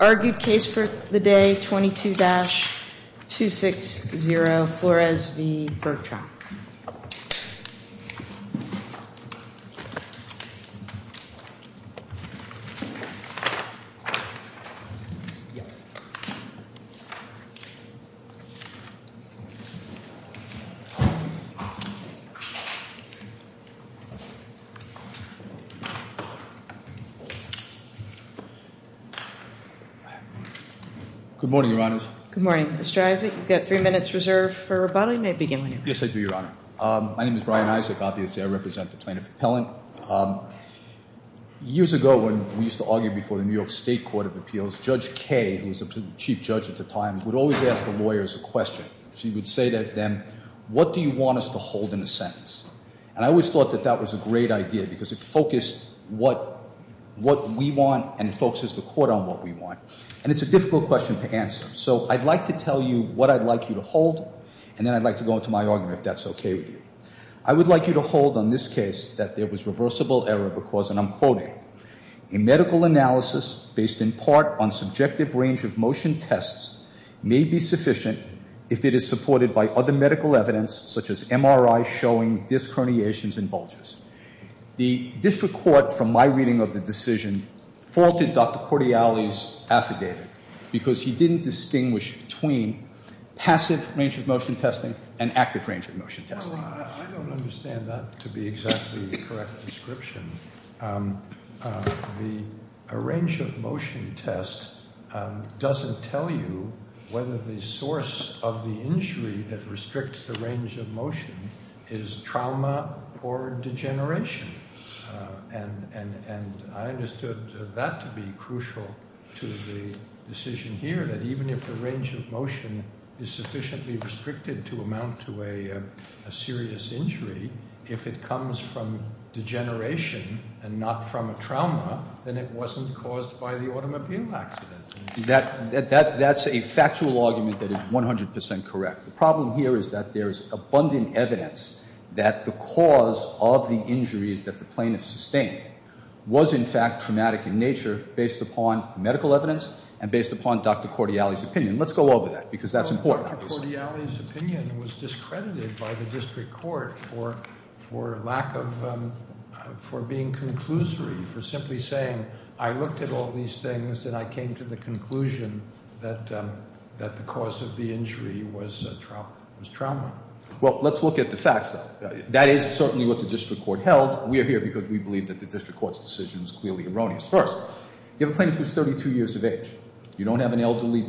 Argued case for the day, 22-260 Flores v. Bergtraum Good morning, your honors. Good morning. Mr. Isaac, you've got three minutes reserved for rebuttal. You may begin when you're ready. Yes, I do, your honor. My name is Brian Isaac. Obviously, I represent the plaintiff appellant. Years ago, when we used to argue before the New York State Court of Appeals, Judge Kay, who was the chief judge at the time, would always ask the lawyers a question. She would say to them, what do you want us to hold in a sentence? And I always thought that that was a great idea because it focused what we want and it focuses the court on what we want. And it's a difficult question to answer, so I'd like to tell you what I'd like you to hold, and then I'd like to go into my argument if that's okay with you. I would like you to hold on this case that there was reversible error because, and I'm quoting, a medical analysis based in part on subjective range of motion tests may be sufficient if it is supported by other medical evidence such as MRI showing disc herniations and bulges. The district court, from my reading of the decision, faulted Dr. Cordiali's affidavit because he didn't distinguish between passive range of motion testing and active range of motion testing. I don't understand that to be exactly the correct description. The range of motion test doesn't tell you whether the source of the injury that restricts the range of motion is trauma or degeneration. And I understood that to be crucial to the decision here, that even if the range of motion is sufficiently restricted to amount to a serious injury, if it comes from degeneration and not from a trauma, then it wasn't caused by the automobile accident. That's a factual argument that is 100% correct. The problem here is that there's abundant evidence that the cause of the injuries that the plaintiff sustained was in fact traumatic in nature based upon medical evidence and based upon Dr. Cordiali's opinion. Let's go over that because that's important. Dr. Cordiali's opinion was discredited by the district court for being conclusory, for simply saying, I looked at all these things and I came to the conclusion that the cause of the injury was trauma. Well, let's look at the facts then. That is certainly what the district court held. We are here because we believe that the district court's decision is clearly erroneous. First, you have a plaintiff who is 32 years of age. You don't have an elderly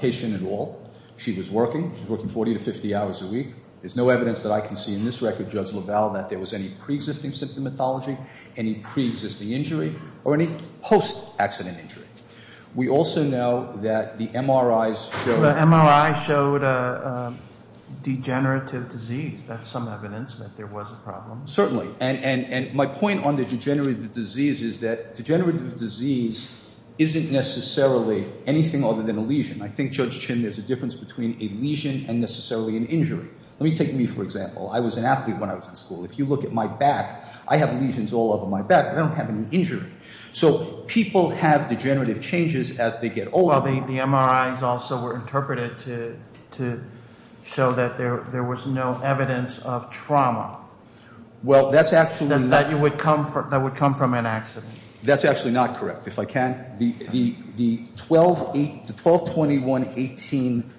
patient at all. She was working. She was working 40 to 50 hours a week. There's no evidence that I can see in this record, Judge LaValle, that there was any preexisting symptomatology, any preexisting injury, or any post-accident injury. We also know that the MRIs showed… The MRIs showed degenerative disease. That's some evidence that there was a problem. Certainly, and my point on the degenerative disease is that degenerative disease isn't necessarily anything other than a lesion. I think, Judge Chin, there's a difference between a lesion and necessarily an injury. Let me take me, for example. I was an athlete when I was in school. If you look at my back, I have lesions all over my back, but I don't have any injury. So people have degenerative changes as they get older. Well, the MRIs also were interpreted to show that there was no evidence of trauma that would come from an accident. That's actually not correct, if I can. The 122118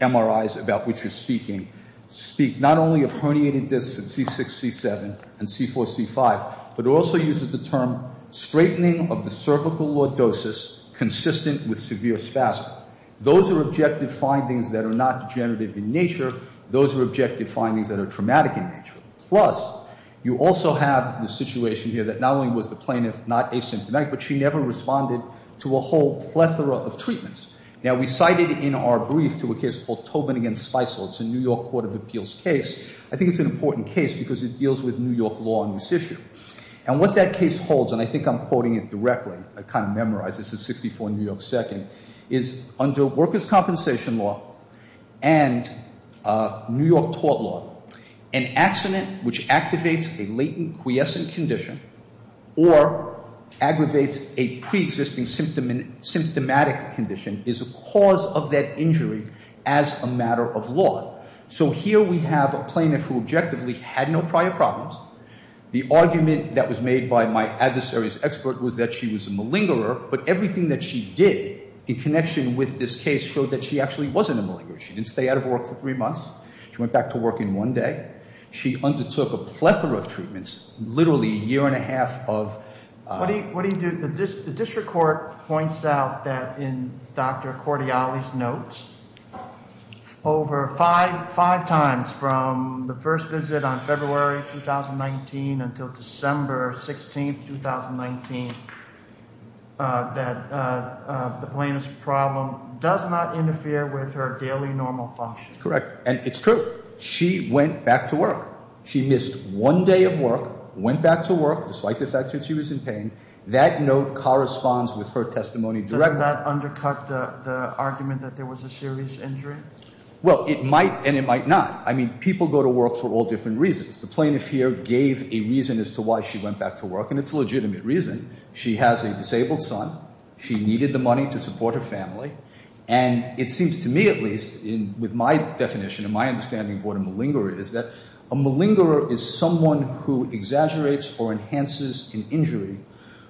MRIs about which you're speaking speak not only of herniated discs in C6, C7, and C4, C5, but it also uses the term straightening of the cervical lordosis consistent with severe spasm. Those are objective findings that are not degenerative in nature. Those are objective findings that are traumatic in nature. Plus, you also have the situation here that not only was the plaintiff not asymptomatic, but she never responded to a whole plethora of treatments. Now, we cited in our brief to a case called Tobin v. Spicel. It's a New York Court of Appeals case. I think it's an important case because it deals with New York law in this issue. And what that case holds, and I think I'm quoting it directly. I kind of memorized it. This is 64 New York 2nd. It's under workers' compensation law and New York tort law. An accident which activates a latent quiescent condition or aggravates a preexisting symptomatic condition is a cause of that injury as a matter of law. So here we have a plaintiff who objectively had no prior problems. The argument that was made by my adversary's expert was that she was a malingerer, but everything that she did in connection with this case showed that she actually wasn't a malingerer. She didn't stay out of work for three months. She went back to work in one day. She undertook a plethora of treatments, literally a year and a half of- that the plaintiff's problem does not interfere with her daily normal function. Correct, and it's true. She went back to work. She missed one day of work, went back to work despite the fact that she was in pain. That note corresponds with her testimony directly. Does that undercut the argument that there was a serious injury? Well, it might and it might not. I mean people go to work for all different reasons. The plaintiff here gave a reason as to why she went back to work, and it's a legitimate reason. She has a disabled son. She needed the money to support her family, and it seems to me at least with my definition and my understanding of what a malingerer is that a malingerer is someone who exaggerates or enhances an injury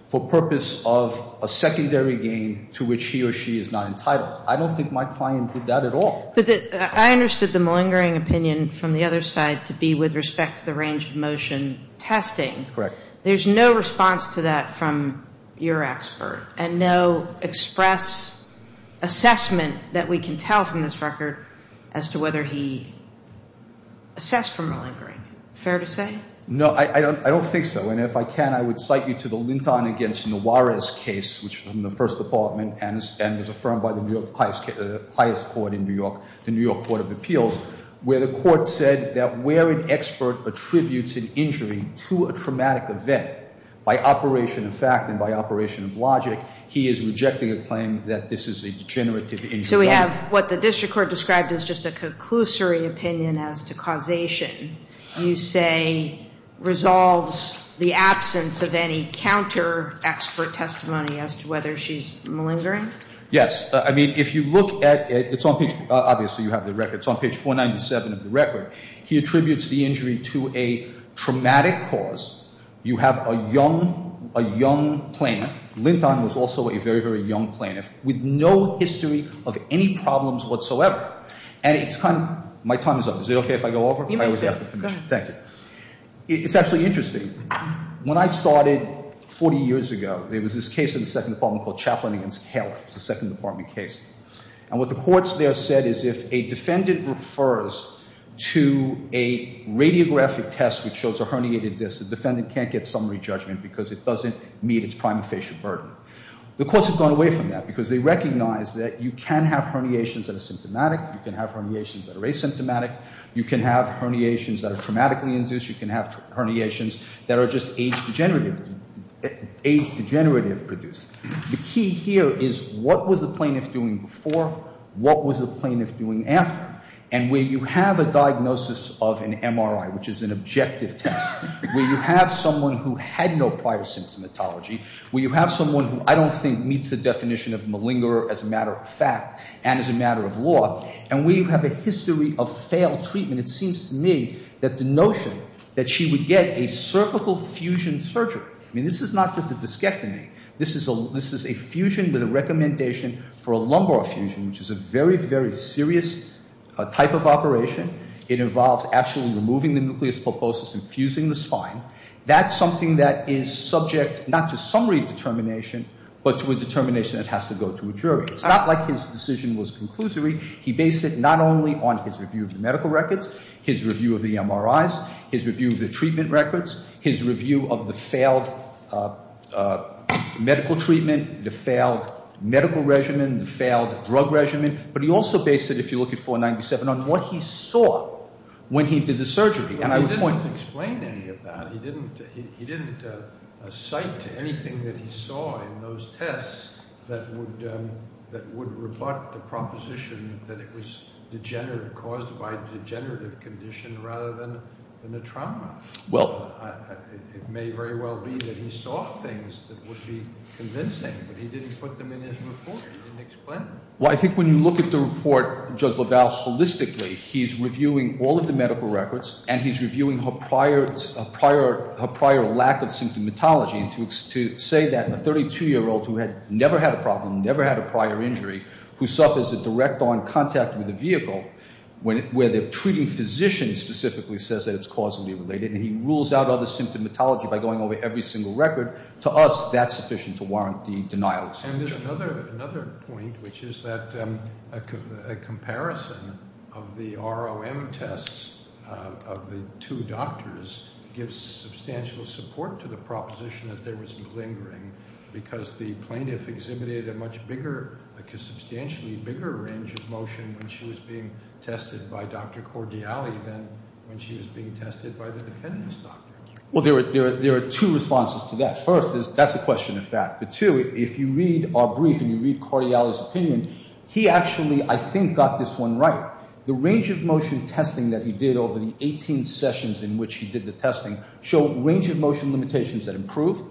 for purpose of a secondary gain to which he or she is not entitled. I don't think my client did that at all. But I understood the malingering opinion from the other side to be with respect to the range of motion testing. Correct. There's no response to that from your expert, and no express assessment that we can tell from this record as to whether he assessed for malingering. Fair to say? No, I don't think so. And if I can, I would cite you to the Linton v. Nuarez case, which was in the First Department and was affirmed by the New York highest court in New York, the New York Court of Appeals, where the court said that where an expert attributes an injury to a traumatic event by operation of fact and by operation of logic, he is rejecting a claim that this is a degenerative injury. So we have what the district court described as just a conclusory opinion as to causation. You say resolves the absence of any counter-expert testimony as to whether she's malingering? Yes. I mean, if you look at it, it's on page—obviously you have the record—it's on page 497 of the record. He attributes the injury to a traumatic cause. You have a young plaintiff. Linton was also a very, very young plaintiff with no history of any problems whatsoever. And it's kind of—my time is up. Is it okay if I go over? You may. Thank you. It's actually interesting. When I started 40 years ago, there was this case in the Second Department called Chaplain v. Taylor. It's a Second Department case. And what the courts there said is if a defendant refers to a radiographic test which shows a herniated disc, the defendant can't get summary judgment because it doesn't meet its prima facie burden. The courts have gone away from that because they recognize that you can have herniations that are symptomatic. You can have herniations that are asymptomatic. You can have herniations that are traumatically induced. You can have herniations that are just age degenerative—age degenerative produced. The key here is what was the plaintiff doing before? What was the plaintiff doing after? And where you have a diagnosis of an MRI, which is an objective test, where you have someone who had no prior symptomatology, where you have someone who I don't think meets the definition of malingerer as a matter of fact and as a matter of law, and where you have a history of failed treatment, it seems to me that the notion that she would get a cervical fusion surgery— I mean this is not just a discectomy. This is a fusion with a recommendation for a lumbar fusion, which is a very, very serious type of operation. It involves actually removing the nucleus pulposus and fusing the spine. That's something that is subject not to summary determination but to a determination that has to go to a jury. It's not like his decision was conclusory. He based it not only on his review of the medical records, his review of the MRIs, his review of the treatment records, his review of the failed medical treatment, the failed medical regimen, the failed drug regimen, but he also based it, if you look at 497, on what he saw when he did the surgery. He didn't explain any of that. He didn't cite anything that he saw in those tests that would rebut the proposition that it was degenerative, or caused by a degenerative condition rather than a trauma. It may very well be that he saw things that would be convincing, but he didn't put them in his report. He didn't explain them. Well, I think when you look at the report, Judge LaValle holistically, he's reviewing all of the medical records, and he's reviewing her prior lack of symptomatology. To say that a 32-year-old who had never had a problem, never had a prior injury, who suffers a direct-on contact with a vehicle where the treating physician specifically says that it's causally related, and he rules out other symptomatology by going over every single record, to us, that's sufficient to warrant the denial of sanction. And there's another point, which is that a comparison of the ROM tests of the two doctors gives substantial support to the proposition that there was blingering because the plaintiff exhibited a much bigger, like a substantially bigger range of motion when she was being tested by Dr. Cordiali than when she was being tested by the defendant's doctor. Well, there are two responses to that. First, that's a question of fact. But two, if you read our brief and you read Cordiali's opinion, he actually, I think, got this one right. The range of motion testing that he did over the 18 sessions in which he did the testing showed range of motion limitations that improve,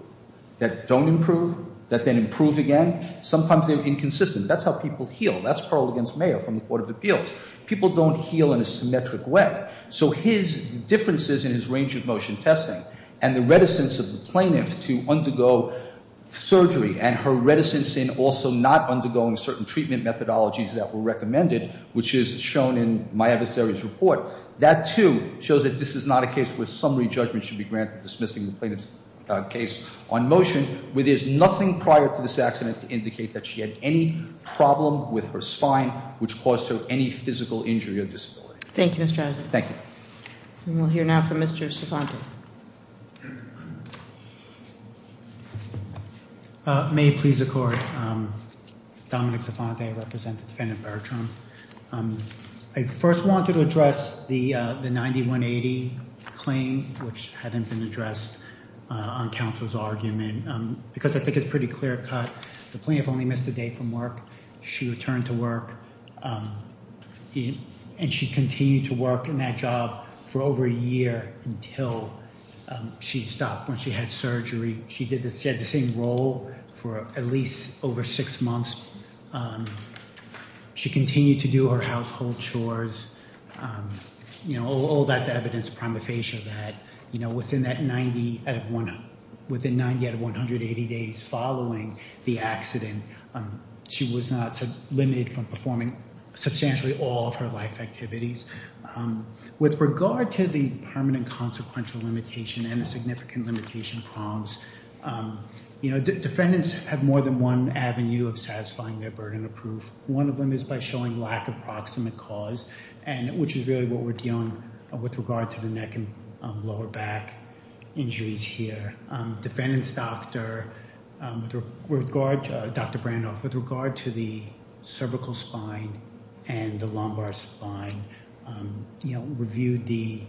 that don't improve, that then improve again. Sometimes they're inconsistent. That's how people heal. That's Perle against Mayer from the Court of Appeals. People don't heal in a symmetric way. So his differences in his range of motion testing and the reticence of the plaintiff to undergo surgery and her reticence in also not undergoing certain treatment methodologies that were recommended, which is shown in my adversary's report. That, too, shows that this is not a case where summary judgment should be granted dismissing the plaintiff's case on motion, where there's nothing prior to this accident to indicate that she had any problem with her spine, which caused her any physical injury or disability. Thank you, Mr. Aslan. Thank you. We'll hear now from Mr. Sifante. May it please the Court, Dominic Sifante, I represent the defendant Bertram. I first wanted to address the 9180 claim, which hadn't been addressed on counsel's argument, because I think it's a pretty clear cut. The plaintiff only missed a day from work. She returned to work, and she continued to work in that job for over a year until she stopped when she had surgery. She had the same role for at least over six months. She continued to do her household chores. All that's evidence prima facie that within 90 out of 180 days following the accident, she was not limited from performing substantially all of her life activities. With regard to the permanent consequential limitation and the significant limitation prongs, defendants have more than one avenue of satisfying their burden of proof. One of them is by showing lack of proximate cause, which is really what we're dealing with with regard to the neck and lower back injuries here. Defendant's doctor, Dr. Brandoff, with regard to the cervical spine and the lumbar spine, reviewed the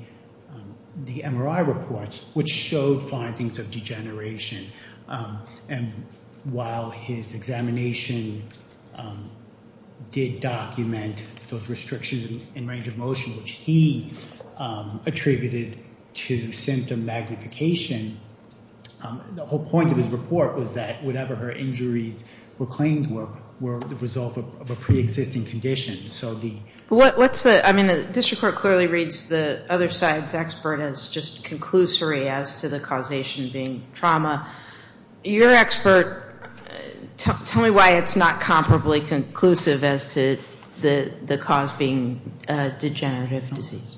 MRI reports, which showed findings of degeneration. While his examination did document those restrictions in range of motion, which he attributed to symptom magnification, the whole point of his report was that whatever her injuries were claimed were, were the result of a preexisting condition. The district court clearly reads the other side's expert as just conclusory as to the causation being trauma. Your expert, tell me why it's not comparably conclusive as to the cause being degenerative disease.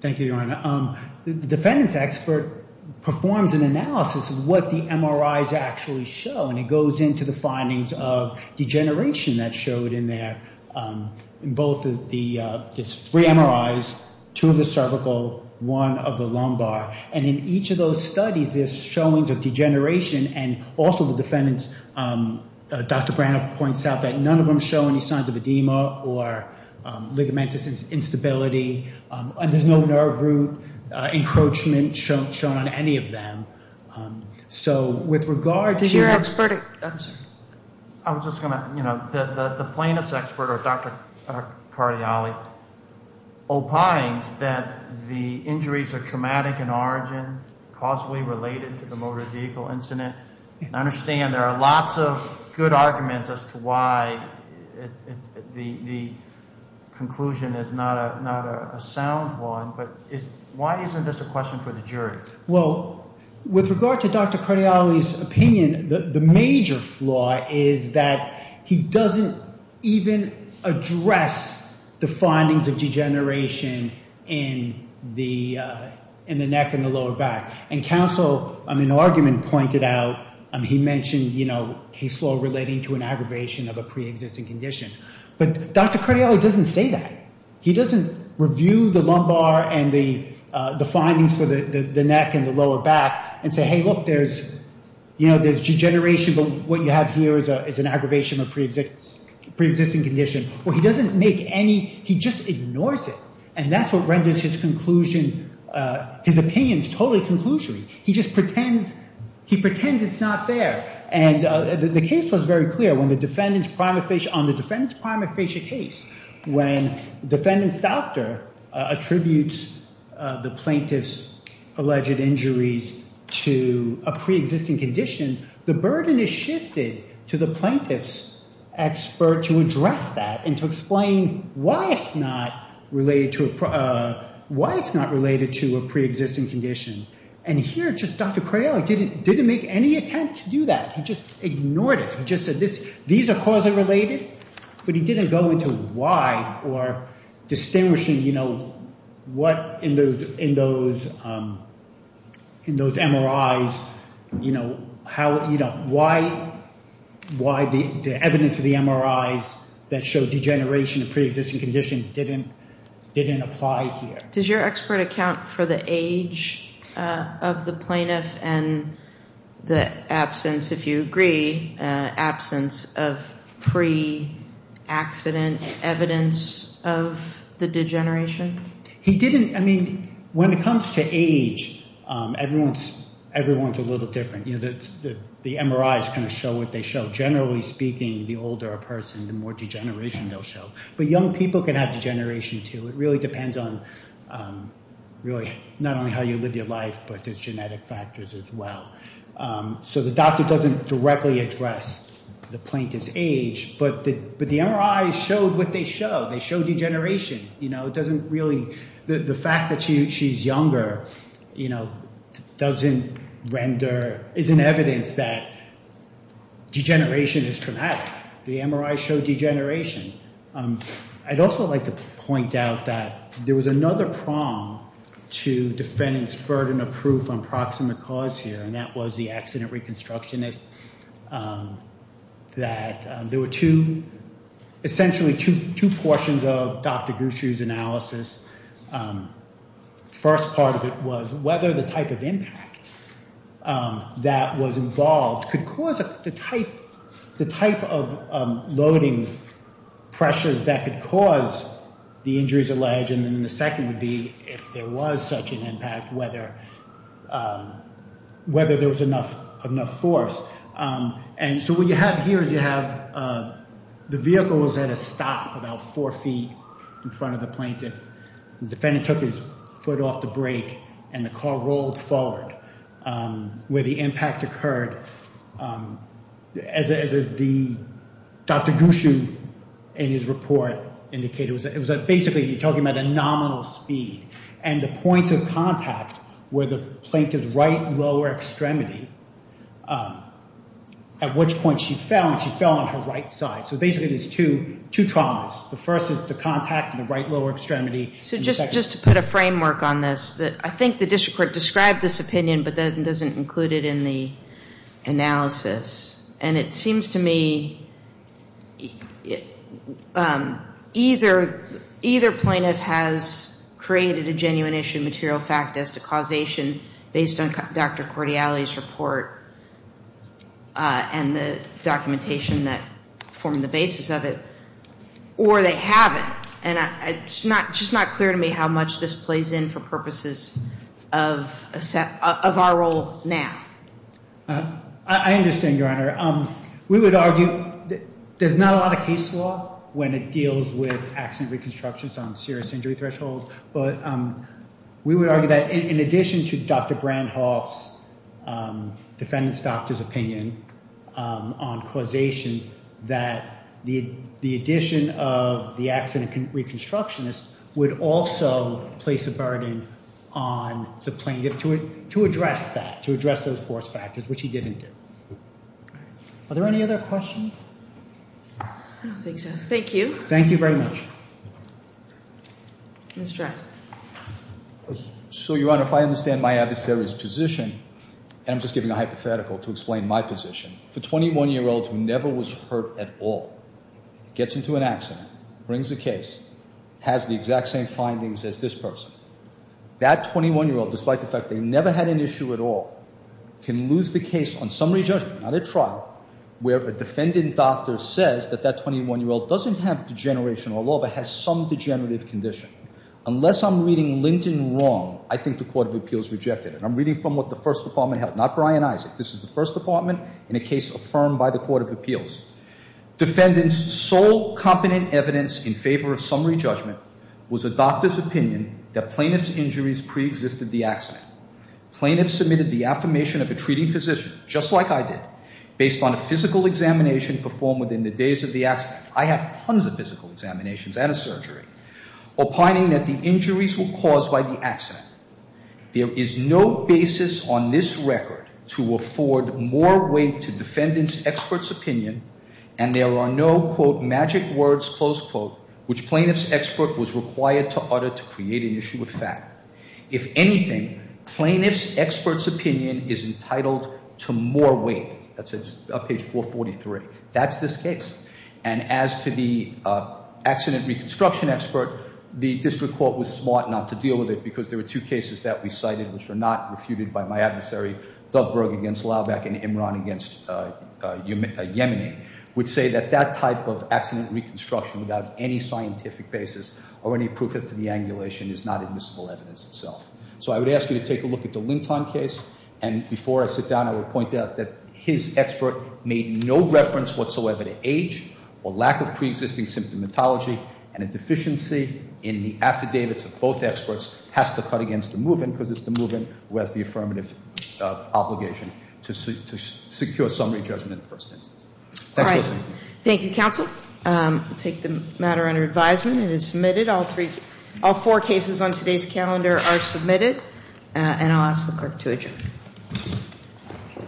Thank you, Your Honor. The defendant's expert performs an analysis of what the MRIs actually show, and it goes into the findings of degeneration that's showed in there, in both the three MRIs, two of the cervical, one of the lumbar. And in each of those studies, there's showings of degeneration, and also the defendants, Dr. Brandoff points out, that none of them show any signs of edema or ligamentous instability, and there's no nerve root encroachment shown on any of them. So with regard to your expert, I'm sorry. I was just going to, you know, the plaintiff's expert, or Dr. Cardioli, opines that the injuries are traumatic in origin, causally related to the motor vehicle incident, and I understand there are lots of good arguments as to why the conclusion is not a sound one, but why isn't this a question for the jury? Well, with regard to Dr. Cardioli's opinion, the major flaw is that he doesn't even address the findings of degeneration in the neck and the lower back. And counsel in an argument pointed out, he mentioned, you know, case law relating to an aggravation of a preexisting condition. But Dr. Cardioli doesn't say that. He doesn't review the lumbar and the findings for the neck and the lower back and say, hey, look, there's, you know, there's degeneration, but what you have here is an aggravation of a preexisting condition. Well, he doesn't make any, he just ignores it. And that's what renders his conclusion, his opinions, totally conclusory. He just pretends, he pretends it's not there. And the case was very clear when the defendant's prima facie, When defendant's doctor attributes the plaintiff's alleged injuries to a preexisting condition, the burden is shifted to the plaintiff's expert to address that and to explain why it's not related to a preexisting condition. And here, just Dr. Cardioli didn't make any attempt to do that. He just ignored it. He just said these are causally related, but he didn't go into why or distinguishing, you know, what in those MRIs, you know, how, you know, why the evidence of the MRIs that show degeneration of preexisting condition didn't apply here. Does your expert account for the age of the plaintiff and the absence, if you agree, absence of pre-accident evidence of the degeneration? He didn't, I mean, when it comes to age, everyone's a little different. You know, the MRIs kind of show what they show. Generally speaking, the older a person, the more degeneration they'll show. But young people can have degeneration too. It really depends on really not only how you live your life, but there's genetic factors as well. So the doctor doesn't directly address the plaintiff's age, but the MRIs show what they show. They show degeneration, you know. It doesn't really, the fact that she's younger, you know, doesn't render, isn't evidence that degeneration is traumatic. The MRIs show degeneration. I'd also like to point out that there was another prong to defendants' burden of proof on proximate cause here, and that was the accident reconstructionist, that there were two, essentially two portions of Dr. Gushue's analysis. First part of it was whether the type of impact that was involved could cause the type of loading pressures that could cause the injuries alleged, and then the second would be if there was such an impact, whether there was enough force. And so what you have here is you have the vehicle was at a stop about four feet in front of the plaintiff. The defendant took his foot off the brake, and the car rolled forward where the impact occurred. As Dr. Gushue in his report indicated, it was basically you're talking about a nominal speed, and the points of contact were the plaintiff's right lower extremity, at which point she fell, and she fell on her right side. So basically there's two traumas. The first is the contact in the right lower extremity. So just to put a framework on this, I think the district court described this opinion, but then doesn't include it in the analysis. And it seems to me either plaintiff has created a genuine issue material fact as to causation based on Dr. Cordiality's report and the documentation that formed the basis of it, or they haven't. And it's just not clear to me how much this plays in for purposes of our role now. I understand, Your Honor. We would argue there's not a lot of case law when it deals with accident reconstructions on serious injury thresholds, but we would argue that in addition to Dr. Brandhoff's defendant's doctor's opinion on causation, that the addition of the accident reconstructionist would also place a burden on the plaintiff to address that, to address those force factors, which he didn't do. Are there any other questions? I don't think so. Thank you. Thank you very much. Mr. Jackson. So, Your Honor, if I understand my adversaries' position, and I'm just giving a hypothetical to explain my position. If a 21-year-old who never was hurt at all gets into an accident, brings a case, has the exact same findings as this person, that 21-year-old, despite the fact they never had an issue at all, can lose the case on summary judgment, not at trial, where a defendant doctor says that that 21-year-old doesn't have degeneration at all but has some degenerative condition. Unless I'm reading Linton wrong, I think the Court of Appeals reject it. I'm reading from what the First Department held, not Brian Isaac. This is the First Department in a case affirmed by the Court of Appeals. Defendant's sole competent evidence in favor of summary judgment was a doctor's opinion that plaintiff's injuries preexisted the accident. Plaintiff submitted the affirmation of a treating physician, just like I did, based on a physical examination performed within the days of the accident. I have tons of physical examinations and a surgery, opining that the injuries were caused by the accident. There is no basis on this record to afford more weight to defendant's expert's opinion, and there are no, quote, magic words, close quote, which plaintiff's expert was required to utter to create an issue of fact. If anything, plaintiff's expert's opinion is entitled to more weight. That's page 443. That's this case. And as to the accident reconstruction expert, the district court was smart not to deal with it, because there were two cases that we cited which were not refuted by my adversary, Duffberg against Laubach and Imran against Yemeni, would say that that type of accident reconstruction without any scientific basis or any proof as to the angulation is not admissible evidence itself. So I would ask you to take a look at the Linton case, and before I sit down, I would point out that his expert made no reference whatsoever to age or lack of preexisting symptomatology, and a deficiency in the afterdates of both experts has to cut against the move-in, because it's the move-in who has the affirmative obligation to secure summary judgment in the first instance. All right. Thank you, counsel. I'll take the matter under advisement. It is submitted. All four cases on today's calendar are submitted. And I'll ask the clerk to adjourn.